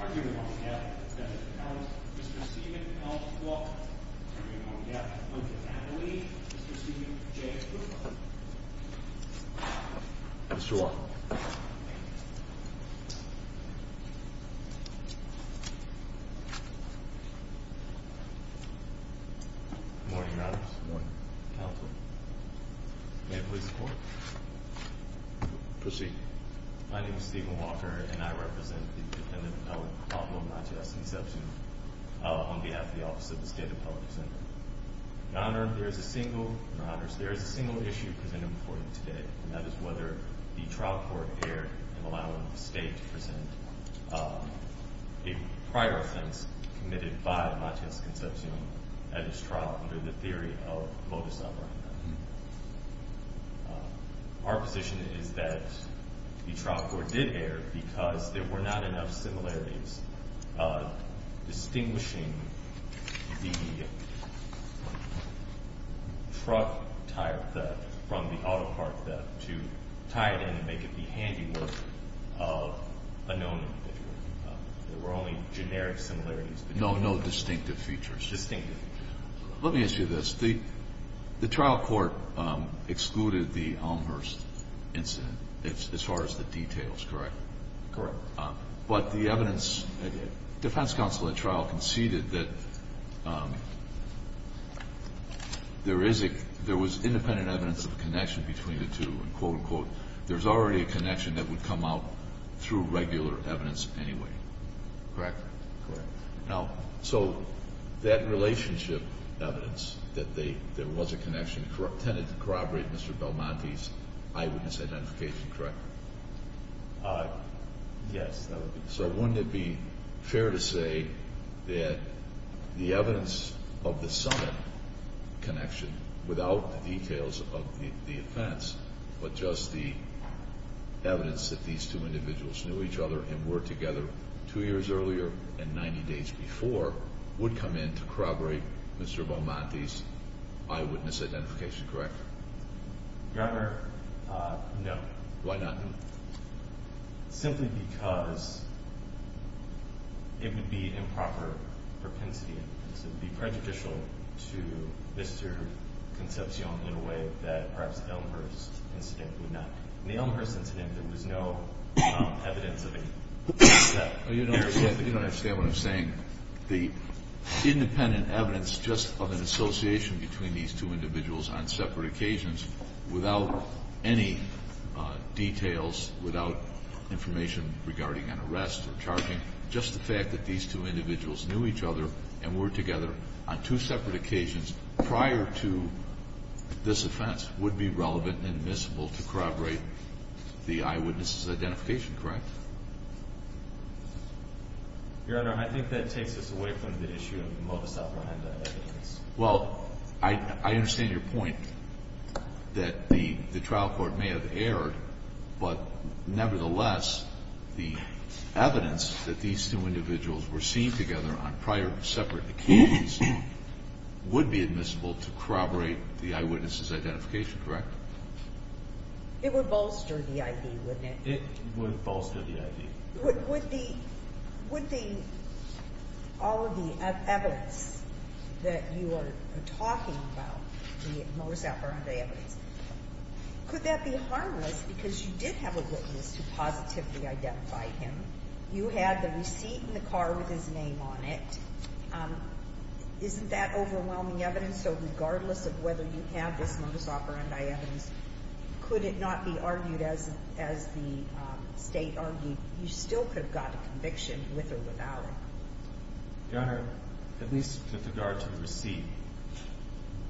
arguing among them, Mr. Steven L. Walker, Mr. Steven J. Cooper. Mr. Walker. Good morning, Your Honors. Good morning. Counsel, may it please the Court. Proceed. My name is Steven Walker, and I represent the defendant, Matias-Concepcion, on behalf of the Office of the State Apology Center. Your Honors, there is a single issue presented before you today, and that is whether the trial court erred in allowing the State to present a prior offense committed by Matias-Concepcion at his trial under the theory of modus operandi. Our position is that the trial court did err because there were not enough similarities distinguishing the truck tire theft from the auto car theft to tie it in and make it the handiwork of a known individual. There were only generic similarities. No, no distinctive features. Distinctive. Let me ask you this. The trial court excluded the Elmhurst incident as far as the details, correct? Correct. But the evidence, the defense counsel at trial conceded that there was independent evidence of a connection between the two, and quote, unquote. There's already a connection that would come out through regular evidence anyway, correct? Correct. Now, so that relationship evidence that there was a connection tended to corroborate Mr. Belmonte's eyewitness identification, correct? Yes. So wouldn't it be fair to say that the evidence of the summit connection, without the details of the offense, but just the evidence that these two individuals knew each other and were together two years earlier and 90 days before, would come in to corroborate Mr. Belmonte's eyewitness identification, correct? Your Honor, no. Why not? Simply because it would be improper propensity. It would be prejudicial to Mr. Concepcion in a way that perhaps the Elmhurst incident would not be. In the Elmhurst incident, there was no evidence of any of that. You don't understand what I'm saying. The independent evidence just of an association between these two individuals on separate occasions without any details, without information regarding an arrest or charging, just the fact that these two individuals knew each other and were together on two separate occasions prior to this offense would be relevant and admissible to corroborate the eyewitness's identification, correct? Your Honor, I think that takes us away from the issue of the modus operandi evidence. Well, I understand your point that the trial court may have erred, but nevertheless, the evidence that these two individuals were seen together on prior separate occasions would be admissible to corroborate the eyewitness's identification, correct? It would bolster the ID, wouldn't it? It would bolster the ID. Would the all of the evidence that you are talking about, the modus operandi evidence, could that be harmless because you did have a witness who positively identified him? You had the receipt in the car with his name on it. Isn't that overwhelming evidence? So regardless of whether you have this modus operandi evidence, could it not be argued as the state argued? You still could have got a conviction with or without it. Your Honor, at least with regard to the receipt,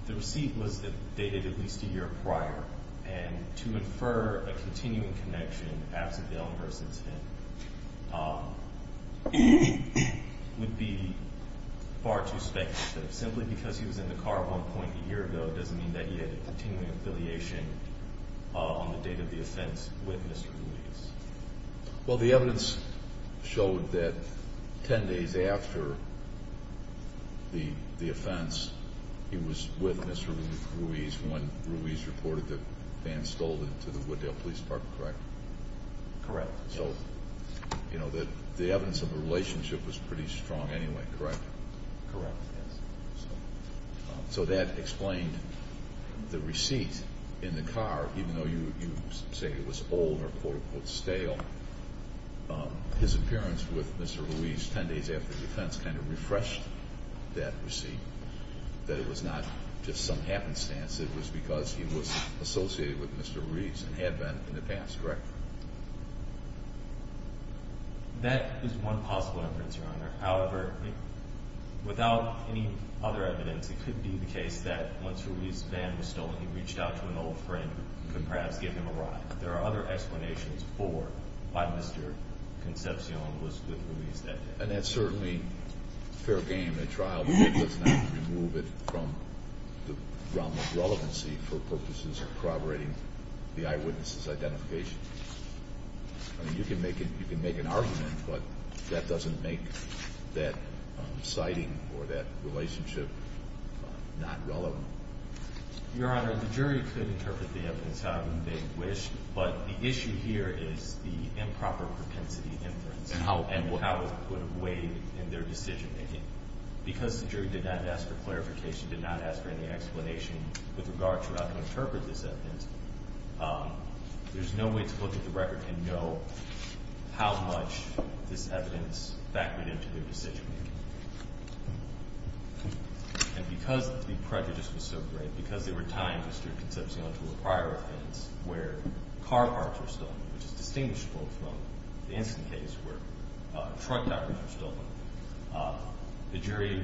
the receipt was dated at least a year prior. And to infer a continuing connection absent the own person to him would be far too speculative. Simply because he was in the car at one point a year ago doesn't mean that he had a continuing affiliation on the date of the offense with Mr. Ruiz. Well, the evidence showed that 10 days after the offense, he was with Mr. Ruiz when Ruiz reported that Van Stolden to the Wooddale Police Department, correct? Correct. So, you know, the evidence of the relationship was pretty strong anyway, correct? Correct, yes. So that explained the receipt in the car, even though you say it was old or, quote, unquote, stale. His appearance with Mr. Ruiz 10 days after the offense kind of refreshed that receipt, that it was not just some happenstance. It was because he was associated with Mr. Ruiz and had been in the past, correct? That is one possible inference, Your Honor. However, without any other evidence, it could be the case that once Ruiz's van was stolen, he reached out to an old friend who could perhaps give him a ride. There are other explanations for why Mr. Concepcion was with Ruiz that day. And that's certainly fair game. A trial does not remove it from the realm of relevancy for purposes of corroborating the eyewitness' identification. I mean, you can make an argument, but that doesn't make that citing or that relationship not relevant. Your Honor, the jury could interpret the evidence however they wish, but the issue here is the improper propensity inference. And how it would have weighed in their decision-making. Because the jury did not ask for clarification, did not ask for any explanation with regard to how to interpret this evidence, there's no way to look at the record and know how much this evidence factored into their decision-making. And because the prejudice was so great, because there were times, Mr. Concepcion, where car parts were stolen, which is distinguishable from the instant case where truck tires were stolen, the jury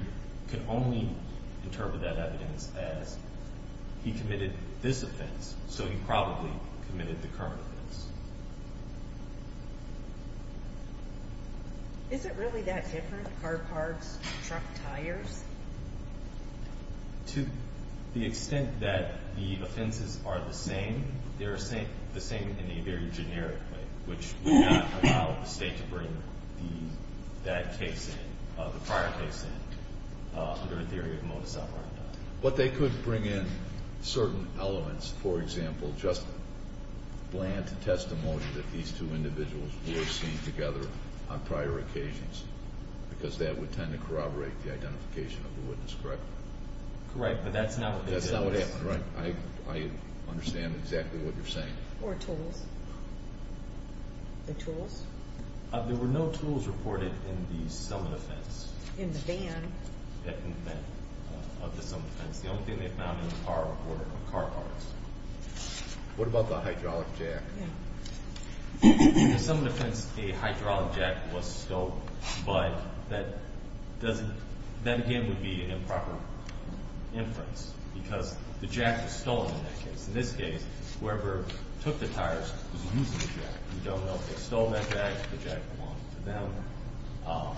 could only interpret that evidence as he committed this offense, so he probably committed the current offense. Is it really that different, car parts, truck tires? To the extent that the offenses are the same, they are the same in a very generic way, which would not allow the State to bring that case in, the prior case in, under the theory of modus operandi. But they could bring in certain elements. For example, just bland testimony that these two individuals were seen together on prior occasions, because that would tend to corroborate the identification of the witness, correct? Correct, but that's not what they did. That's not what happened, right. I understand exactly what you're saying. Or tools. The tools. There were no tools reported in the summit offense. In the van. In the van, of the summit offense. The only thing they found in the car were car parts. What about the hydraulic jack? In the summit offense, a hydraulic jack was stolen, but that doesn't, that again would be an improper inference, because the jack was stolen in that case. In this case, whoever took the tires was using the jack. We don't know if they stole that jack, if the jack belonged to them.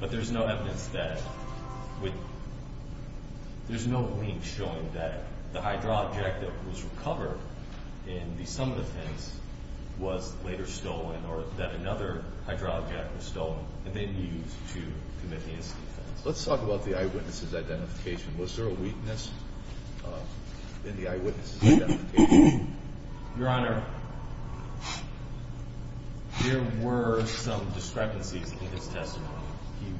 But there's no evidence that, there's no link showing that the hydraulic jack that was recovered in the summit offense was later stolen, or that another hydraulic jack was stolen, and then used to commit the incident. Let's talk about the eyewitness' identification. Was there a weakness in the eyewitness' identification? Your Honor, there were some discrepancies in his testimony. He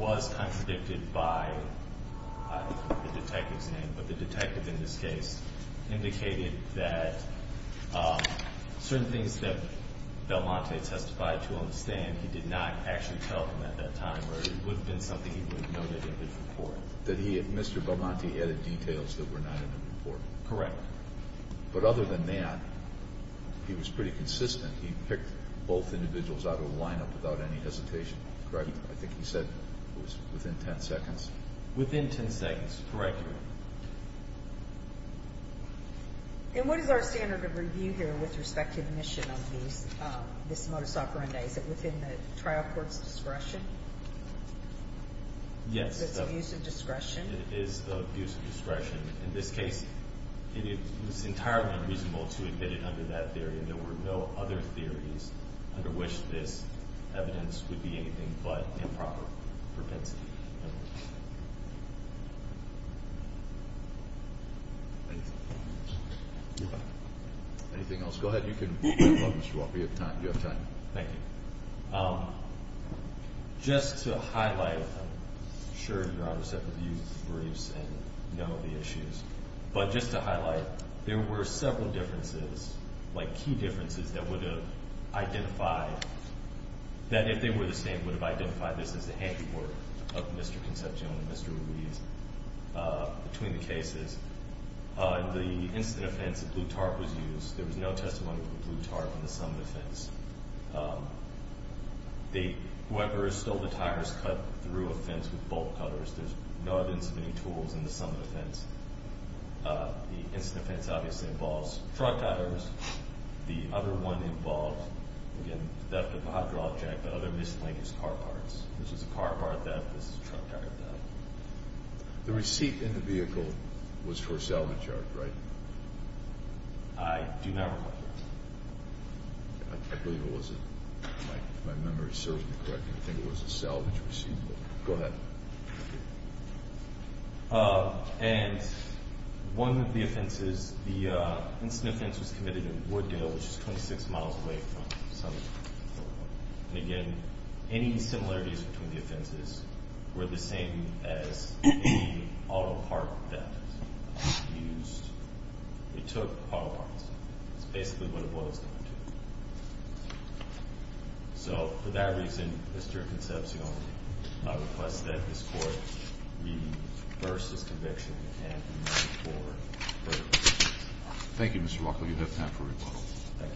was contradicted by the detective's name, but the detective in this case indicated that certain things that Belmonte testified to on the stand, he did not actually tell them at that time, or it would have been something he would have noted in his report. That he, Mr. Belmonte, added details that were not in the report. Correct. But other than that, he was pretty consistent. He picked both individuals out of a lineup without any hesitation. Correct? I think he said it was within 10 seconds. Within 10 seconds. Correct, Your Honor. And what is our standard of review here with respect to admission of this modus operandi? Is it within the trial court's discretion? Yes. So it's abuse of discretion? It is abuse of discretion. In this case, it was entirely unreasonable to admit it under that theory. And there were no other theories under which this evidence would be anything but improper propensity. Thank you. Anything else? Go ahead. You can wrap up, Mr. Walker. You have time. Thank you. Just to highlight, I'm sure Your Honor said to use briefs and know the issues. But just to highlight, there were several differences, like key differences, that would have identified that if they were the same, would have identified this as the handiwork of Mr. Concepcion and Mr. Ruiz between the cases. In the incident offense, the blue tarp was used. There was no testimony from the blue tarp in the summit offense. Whoever stole the tires cut through a fence with bolt cutters. There's no evidence of any tools in the summit offense. The incident offense obviously involves truck tires. The other one involved, again, theft of a hydraulic jack, but other mislinked car parts. This is a car part theft. This is a truck tire theft. The receipt in the vehicle was for a salvage yard, right? I do not recall. I believe it was. If my memory serves me correctly, I think it was a salvage receipt. Go ahead. And one of the offenses, the incident offense was committed in Wooddale, which is 26 miles away from the summit. And again, any similarities between the offenses were the same as the auto part theft. It took auto parts. That's basically what it was going to. So for that reason, Mr. Concepcion, I request that this court reverse this conviction and move it forward. Thank you, Mr. Walker. You have time for rebuttal. Thank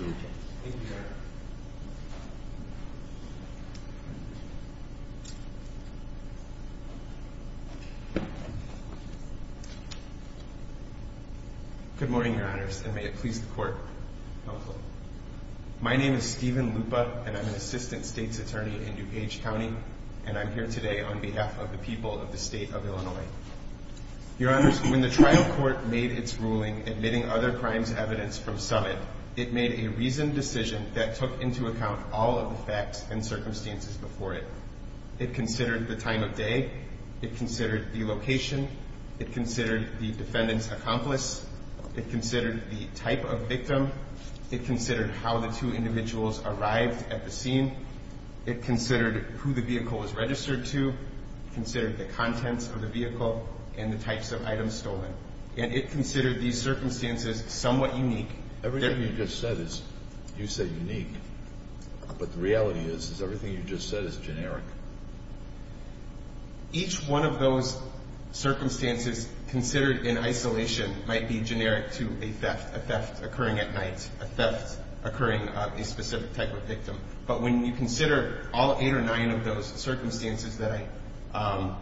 you. Thank you, Your Honor. Good morning, Your Honors, and may it please the court. My name is Steven Lupa, and I'm an assistant state's attorney in DuPage County, and I'm here today on behalf of the people of the state of Illinois. Your Honors, when the trial court made its ruling admitting other crimes evidence from summit, it made a reasoned decision that took into account all of the facts and circumstances before it. It considered the time of day. It considered the location. It considered the defendant's accomplice. It considered the type of victim. It considered how the two individuals arrived at the scene. It considered who the vehicle was registered to. It considered the contents of the vehicle and the types of items stolen. And it considered these circumstances somewhat unique. Everything you just said is, you said unique. But the reality is, is everything you just said is generic. Each one of those circumstances considered in isolation might be generic to a theft, a theft occurring at night, a theft occurring a specific type of victim. But when you consider all eight or nine of those circumstances that I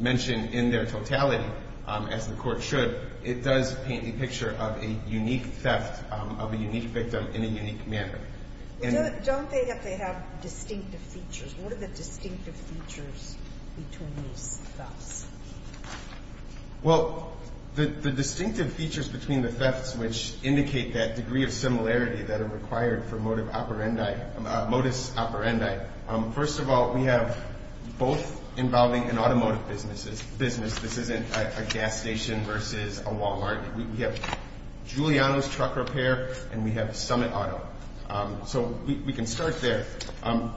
mentioned in their totality, as the court should, it does paint a picture of a unique theft of a unique victim in a unique manner. Don't they have to have distinctive features? What are the distinctive features between these thefts? Well, the distinctive features between the thefts, which indicate that degree of similarity that are required for modus operandi. First of all, we have both involving an automotive business. This isn't a gas station versus a Walmart. We have Giuliano's Truck Repair, and we have Summit Auto. So we can start there.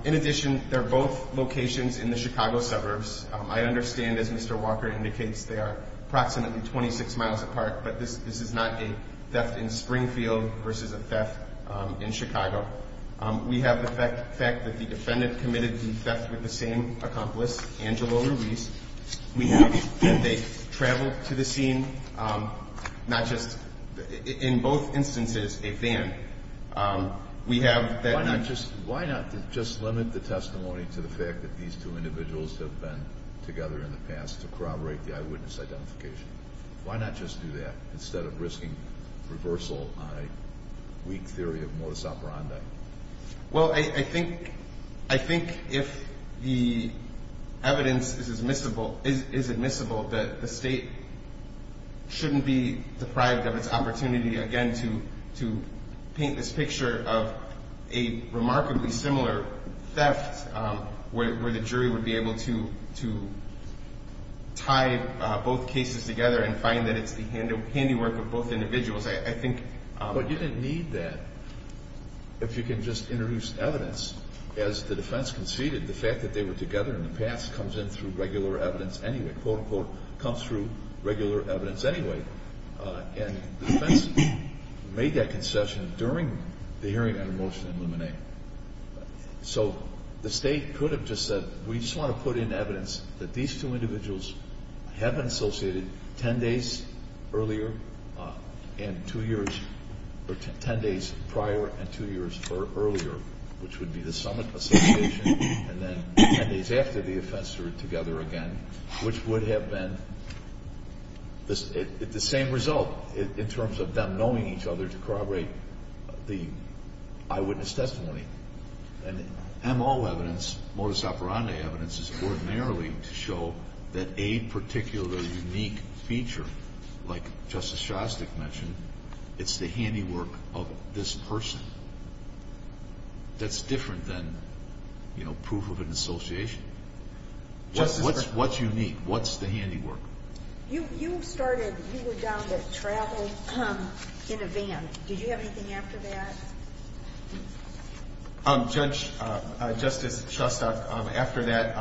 In addition, they're both locations in the Chicago suburbs. I understand, as Mr. Walker indicates, they are approximately 26 miles apart. But this is not a theft in Springfield versus a theft in Chicago. We have the fact that the defendant committed the theft with the same accomplice, Angelo Ruiz. We have that they traveled to the scene. Not just in both instances a van. We have that not just. Why not just limit the testimony to the fact that these two individuals have been together in the past to corroborate the eyewitness identification? Why not just do that instead of risking reversal on a weak theory of modus operandi? Well, I think if the evidence is admissible, that the state shouldn't be deprived of its opportunity again to paint this picture of a remarkably similar theft where the jury would be able to tie both cases together and find that it's the handiwork of both individuals. But you don't need that if you can just introduce evidence. As the defense conceded, the fact that they were together in the past comes in through regular evidence anyway. Quote, unquote, comes through regular evidence anyway. And the defense made that concession during the hearing on a motion to eliminate. So the state could have just said, we just want to put in evidence that these two individuals have been associated ten days prior and two years earlier, which would be the summit association and then ten days after the offense they were together again, which would have been the same result in terms of them knowing each other to corroborate the eyewitness testimony. And MO evidence, modus operandi evidence, is ordinarily to show that a particular unique feature, like Justice Shostak mentioned, it's the handiwork of this person that's different than proof of an association. What's unique? What's the handiwork? You started, you were down to travel in a van. Did you have anything after that? Justice Shostak, after that,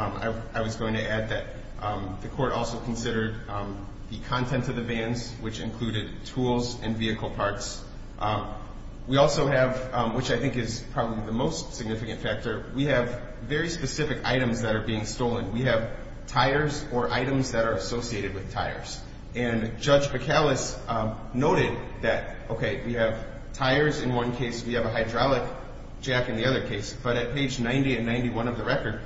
I was going to add that the court also considered the content of the vans, which included tools and vehicle parts. We also have, which I think is probably the most significant factor, we have very specific items that are being stolen. We have tires or items that are associated with tires. And Judge Bacalus noted that, okay, we have tires in one case, we have a hydraulic jack in the other case. But at page 90 and 91 of the record,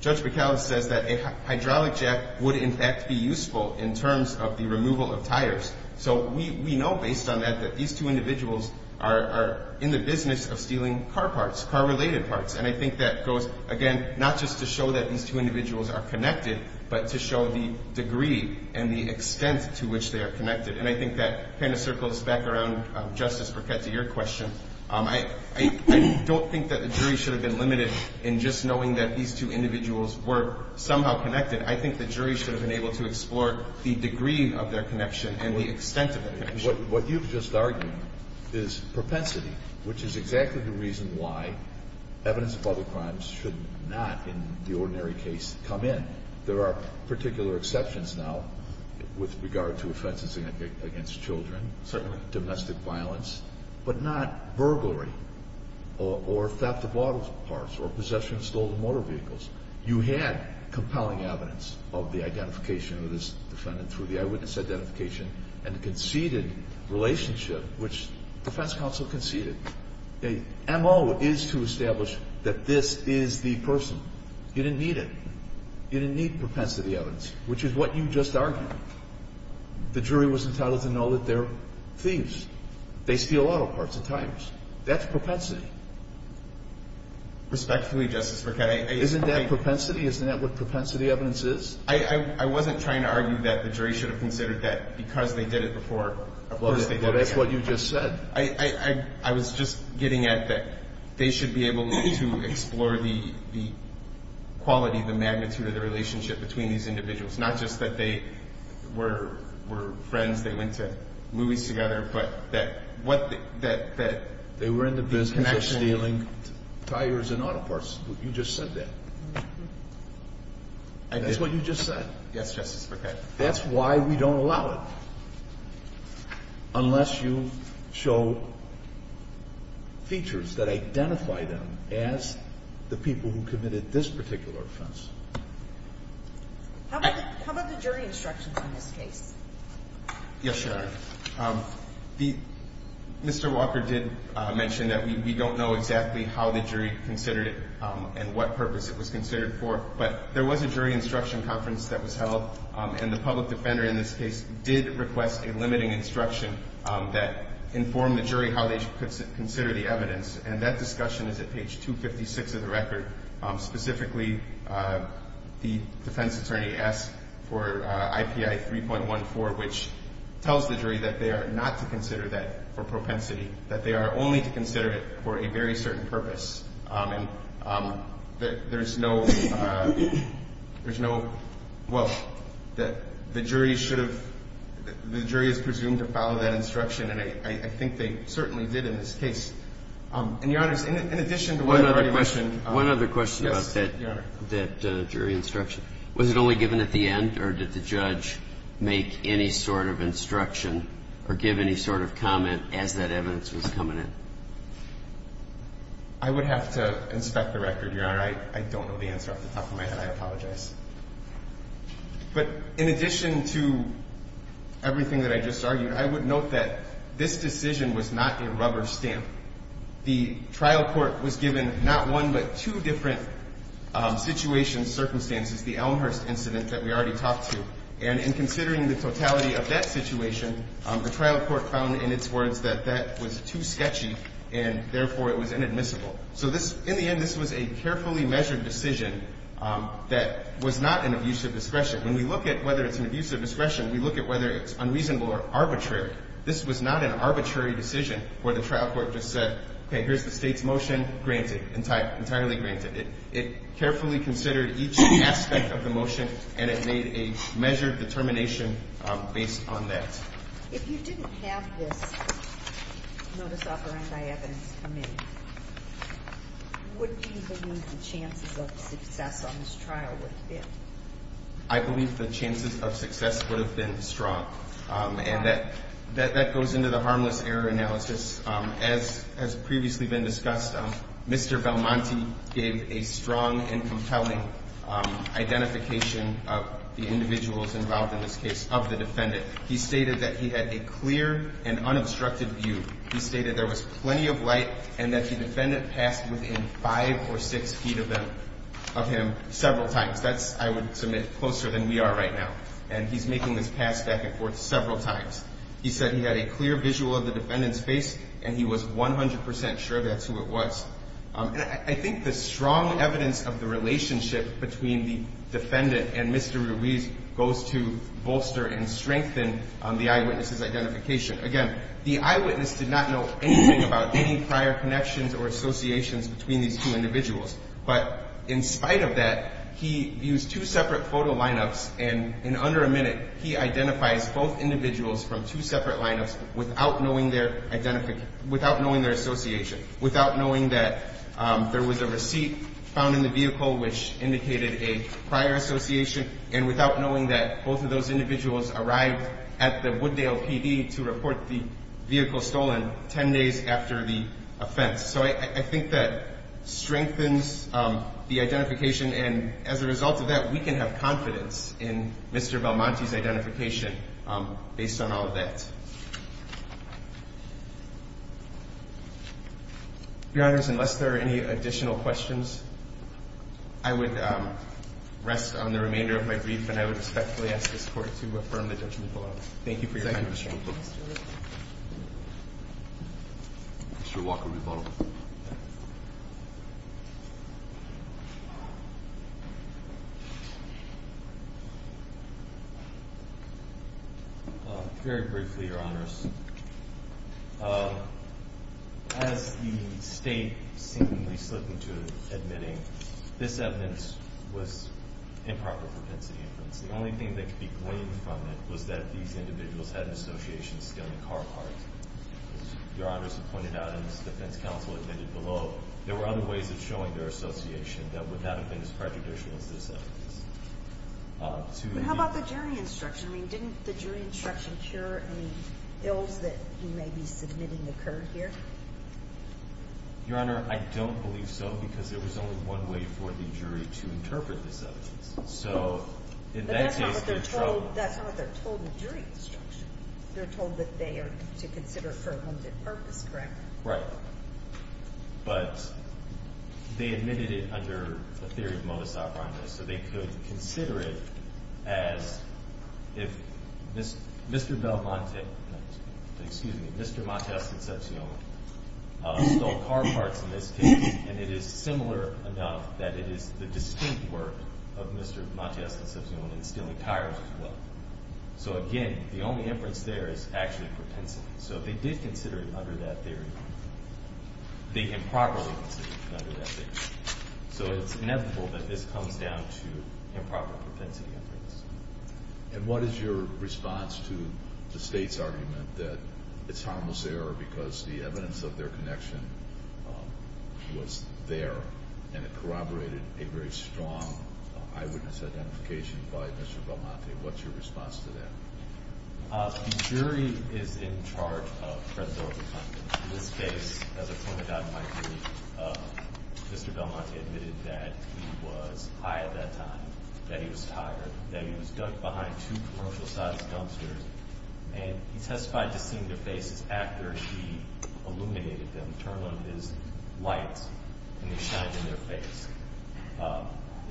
Judge Bacalus says that a hydraulic jack would in fact be useful in terms of the removal of tires. So we know based on that that these two individuals are in the business of stealing car parts, car-related parts. And I think that goes, again, not just to show that these two individuals are connected, but to show the degree and the extent to which they are connected. And I think that kind of circles back around, Justice Burkett, to your question. I don't think that the jury should have been limited in just knowing that these two individuals were somehow connected. I think the jury should have been able to explore the degree of their connection and the extent of their connection. What you've just argued is propensity, which is exactly the reason why evidence of other crimes should not, in the ordinary case, come in. There are particular exceptions now with regard to offenses against children, certainly domestic violence, but not burglary or theft of auto parts or possession of stolen motor vehicles. You had compelling evidence of the identification of this defendant through the eyewitness identification and the conceded relationship, which defense counsel conceded. The M.O. is to establish that this is the person. You didn't need it. You didn't need propensity evidence, which is what you just argued. The jury was entitled to know that they're thieves. They steal auto parts and tires. That's propensity. Respectfully, Justice Burkett. Isn't that propensity? Isn't that what propensity evidence is? I wasn't trying to argue that the jury should have considered that because they did it before. Well, that's what you just said. I was just getting at that they should be able to explore the quality, the magnitude, or the relationship between these individuals, not just that they were friends, they went to movies together, but that the connection. They were in the business of stealing tires and auto parts. You just said that. And that's what you just said. Yes, Justice Burkett. That's why we don't allow it unless you show features that identify them as the people who committed this particular offense. How about the jury instructions in this case? Yes, Your Honor. Mr. Walker did mention that we don't know exactly how the jury considered it and what purpose it was considered for. But there was a jury instruction conference that was held, and the public defender in this case did request a limiting instruction that informed the jury how they should consider the evidence. And that discussion is at page 256 of the record. Specifically, the defense attorney asked for IPI 3.14, which tells the jury that they are not to consider that for propensity, that they are only to consider it for a very certain purpose. And there's no – well, the jury should have – the jury is presumed to follow that instruction, and I think they certainly did in this case. And, Your Honors, in addition to what I already mentioned – One other question about that jury instruction. Was it only given at the end, or did the judge make any sort of instruction or give any sort of comment as that evidence was coming in? I would have to inspect the record, Your Honor. I don't know the answer off the top of my head. I apologize. But in addition to everything that I just argued, I would note that this decision was not a rubber stamp. The trial court was given not one but two different situations, circumstances, the Elmhurst incident that we already talked to. And in considering the totality of that situation, the trial court found in its words that that was too sketchy, and therefore it was inadmissible. So this – in the end, this was a carefully measured decision that was not an abuse of discretion. When we look at whether it's an abuse of discretion, we look at whether it's unreasonable or arbitrary. This was not an arbitrary decision where the trial court just said, okay, here's the State's motion. Granted. Entirely granted. It carefully considered each aspect of the motion, and it made a measured determination based on that. If you didn't have this notice offered by evidence come in, would you believe the chances of success on this trial would have been? I believe the chances of success would have been strong. And that goes into the harmless error analysis. As has previously been discussed, Mr. Belmonte gave a strong and compelling identification of the individuals involved in this case, of the defendant. He stated that he had a clear and unobstructed view. He stated there was plenty of light and that the defendant passed within five or six feet of him several times. That's, I would submit, closer than we are right now. And he's making this pass back and forth several times. He said he had a clear visual of the defendant's face, and he was 100 percent sure that's who it was. And I think the strong evidence of the relationship between the defendant and Mr. Ruiz goes to bolster and strengthen the eyewitness's identification. Again, the eyewitness did not know anything about any prior connections or associations between these two individuals. But in spite of that, he used two separate photo lineups, and in under a minute, he identifies both individuals from two separate lineups without knowing their association, without knowing that there was a receipt found in the vehicle which indicated a prior association, and without knowing that both of those individuals arrived at the Wooddale PD to report the vehicle stolen 10 days after the offense. So I think that strengthens the identification, and as a result of that, we can have confidence in Mr. Belmonte's identification based on all of that. Your Honors, unless there are any additional questions, I would rest on the remainder of my brief, and I would respectfully ask this Court to affirm the judgment below. Thank you for your time and attention. Thank you, Mr. Ruiz. Mr. Walker, rebuttal. Very briefly, Your Honors. As the State seemingly slipped into admitting, this evidence was improper propensity inference. The only thing that could be gleaned from it was that these individuals had an association stealing car parts. As Your Honors have pointed out, and as the defense counsel admitted below, there were other ways of showing their association that would not have been as prejudicial as this evidence. How about the jury instruction? I mean, didn't the jury instruction cure any ills that he may be submitting occurred here? Your Honor, I don't believe so, because there was only one way for the jury to interpret this evidence. But that's not what they're told in jury instruction. They're told that they are to consider it for a limited purpose, correct? Right. But they admitted it under the theory of modus operandi, so they could consider it as if Mr. Belmonte, excuse me, Mr. Montesconcepcion, stole car parts in this case, and it is similar enough that it is the distinct work of Mr. Montesconcepcion in stealing tires as well. So again, the only inference there is actually propensity. So they did consider it under that theory. They improperly considered it under that theory. So it's inevitable that this comes down to improper propensity inference. And what is your response to the State's argument that it's harmless error because the evidence of their connection was there and it corroborated a very strong eyewitness identification by Mr. Belmonte? What's your response to that? The jury is in charge of Fred Zorba's husband. In this case, as a point of doubt in my theory, Mr. Belmonte admitted that he was high at that time, that he was tired, that he was behind two commercial-sized dumpsters, and he testified to seeing their faces after he illuminated them, turned on his lights, and they shined in their face.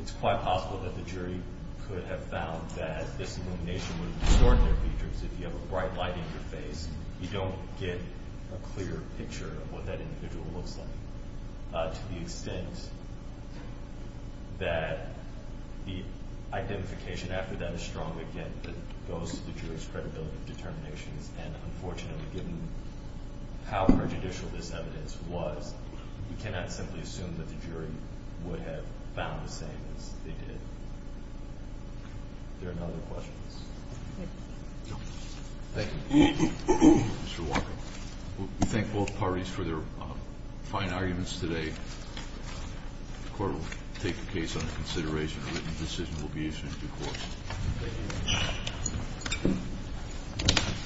It's quite possible that the jury could have found that this illumination would have distorted their features. If you have a bright light in your face, you don't get a clear picture of what that individual looks like. To the extent that the identification after that is strong, again, it goes to the jury's credibility of determinations. And unfortunately, given how prejudicial this evidence was, we cannot simply assume that the jury would have found the same as they did. Are there any other questions? Thank you. You're welcome. We thank both parties for their fine arguments today. The court will take the case under consideration. A written decision will be issued in due course. Thank you.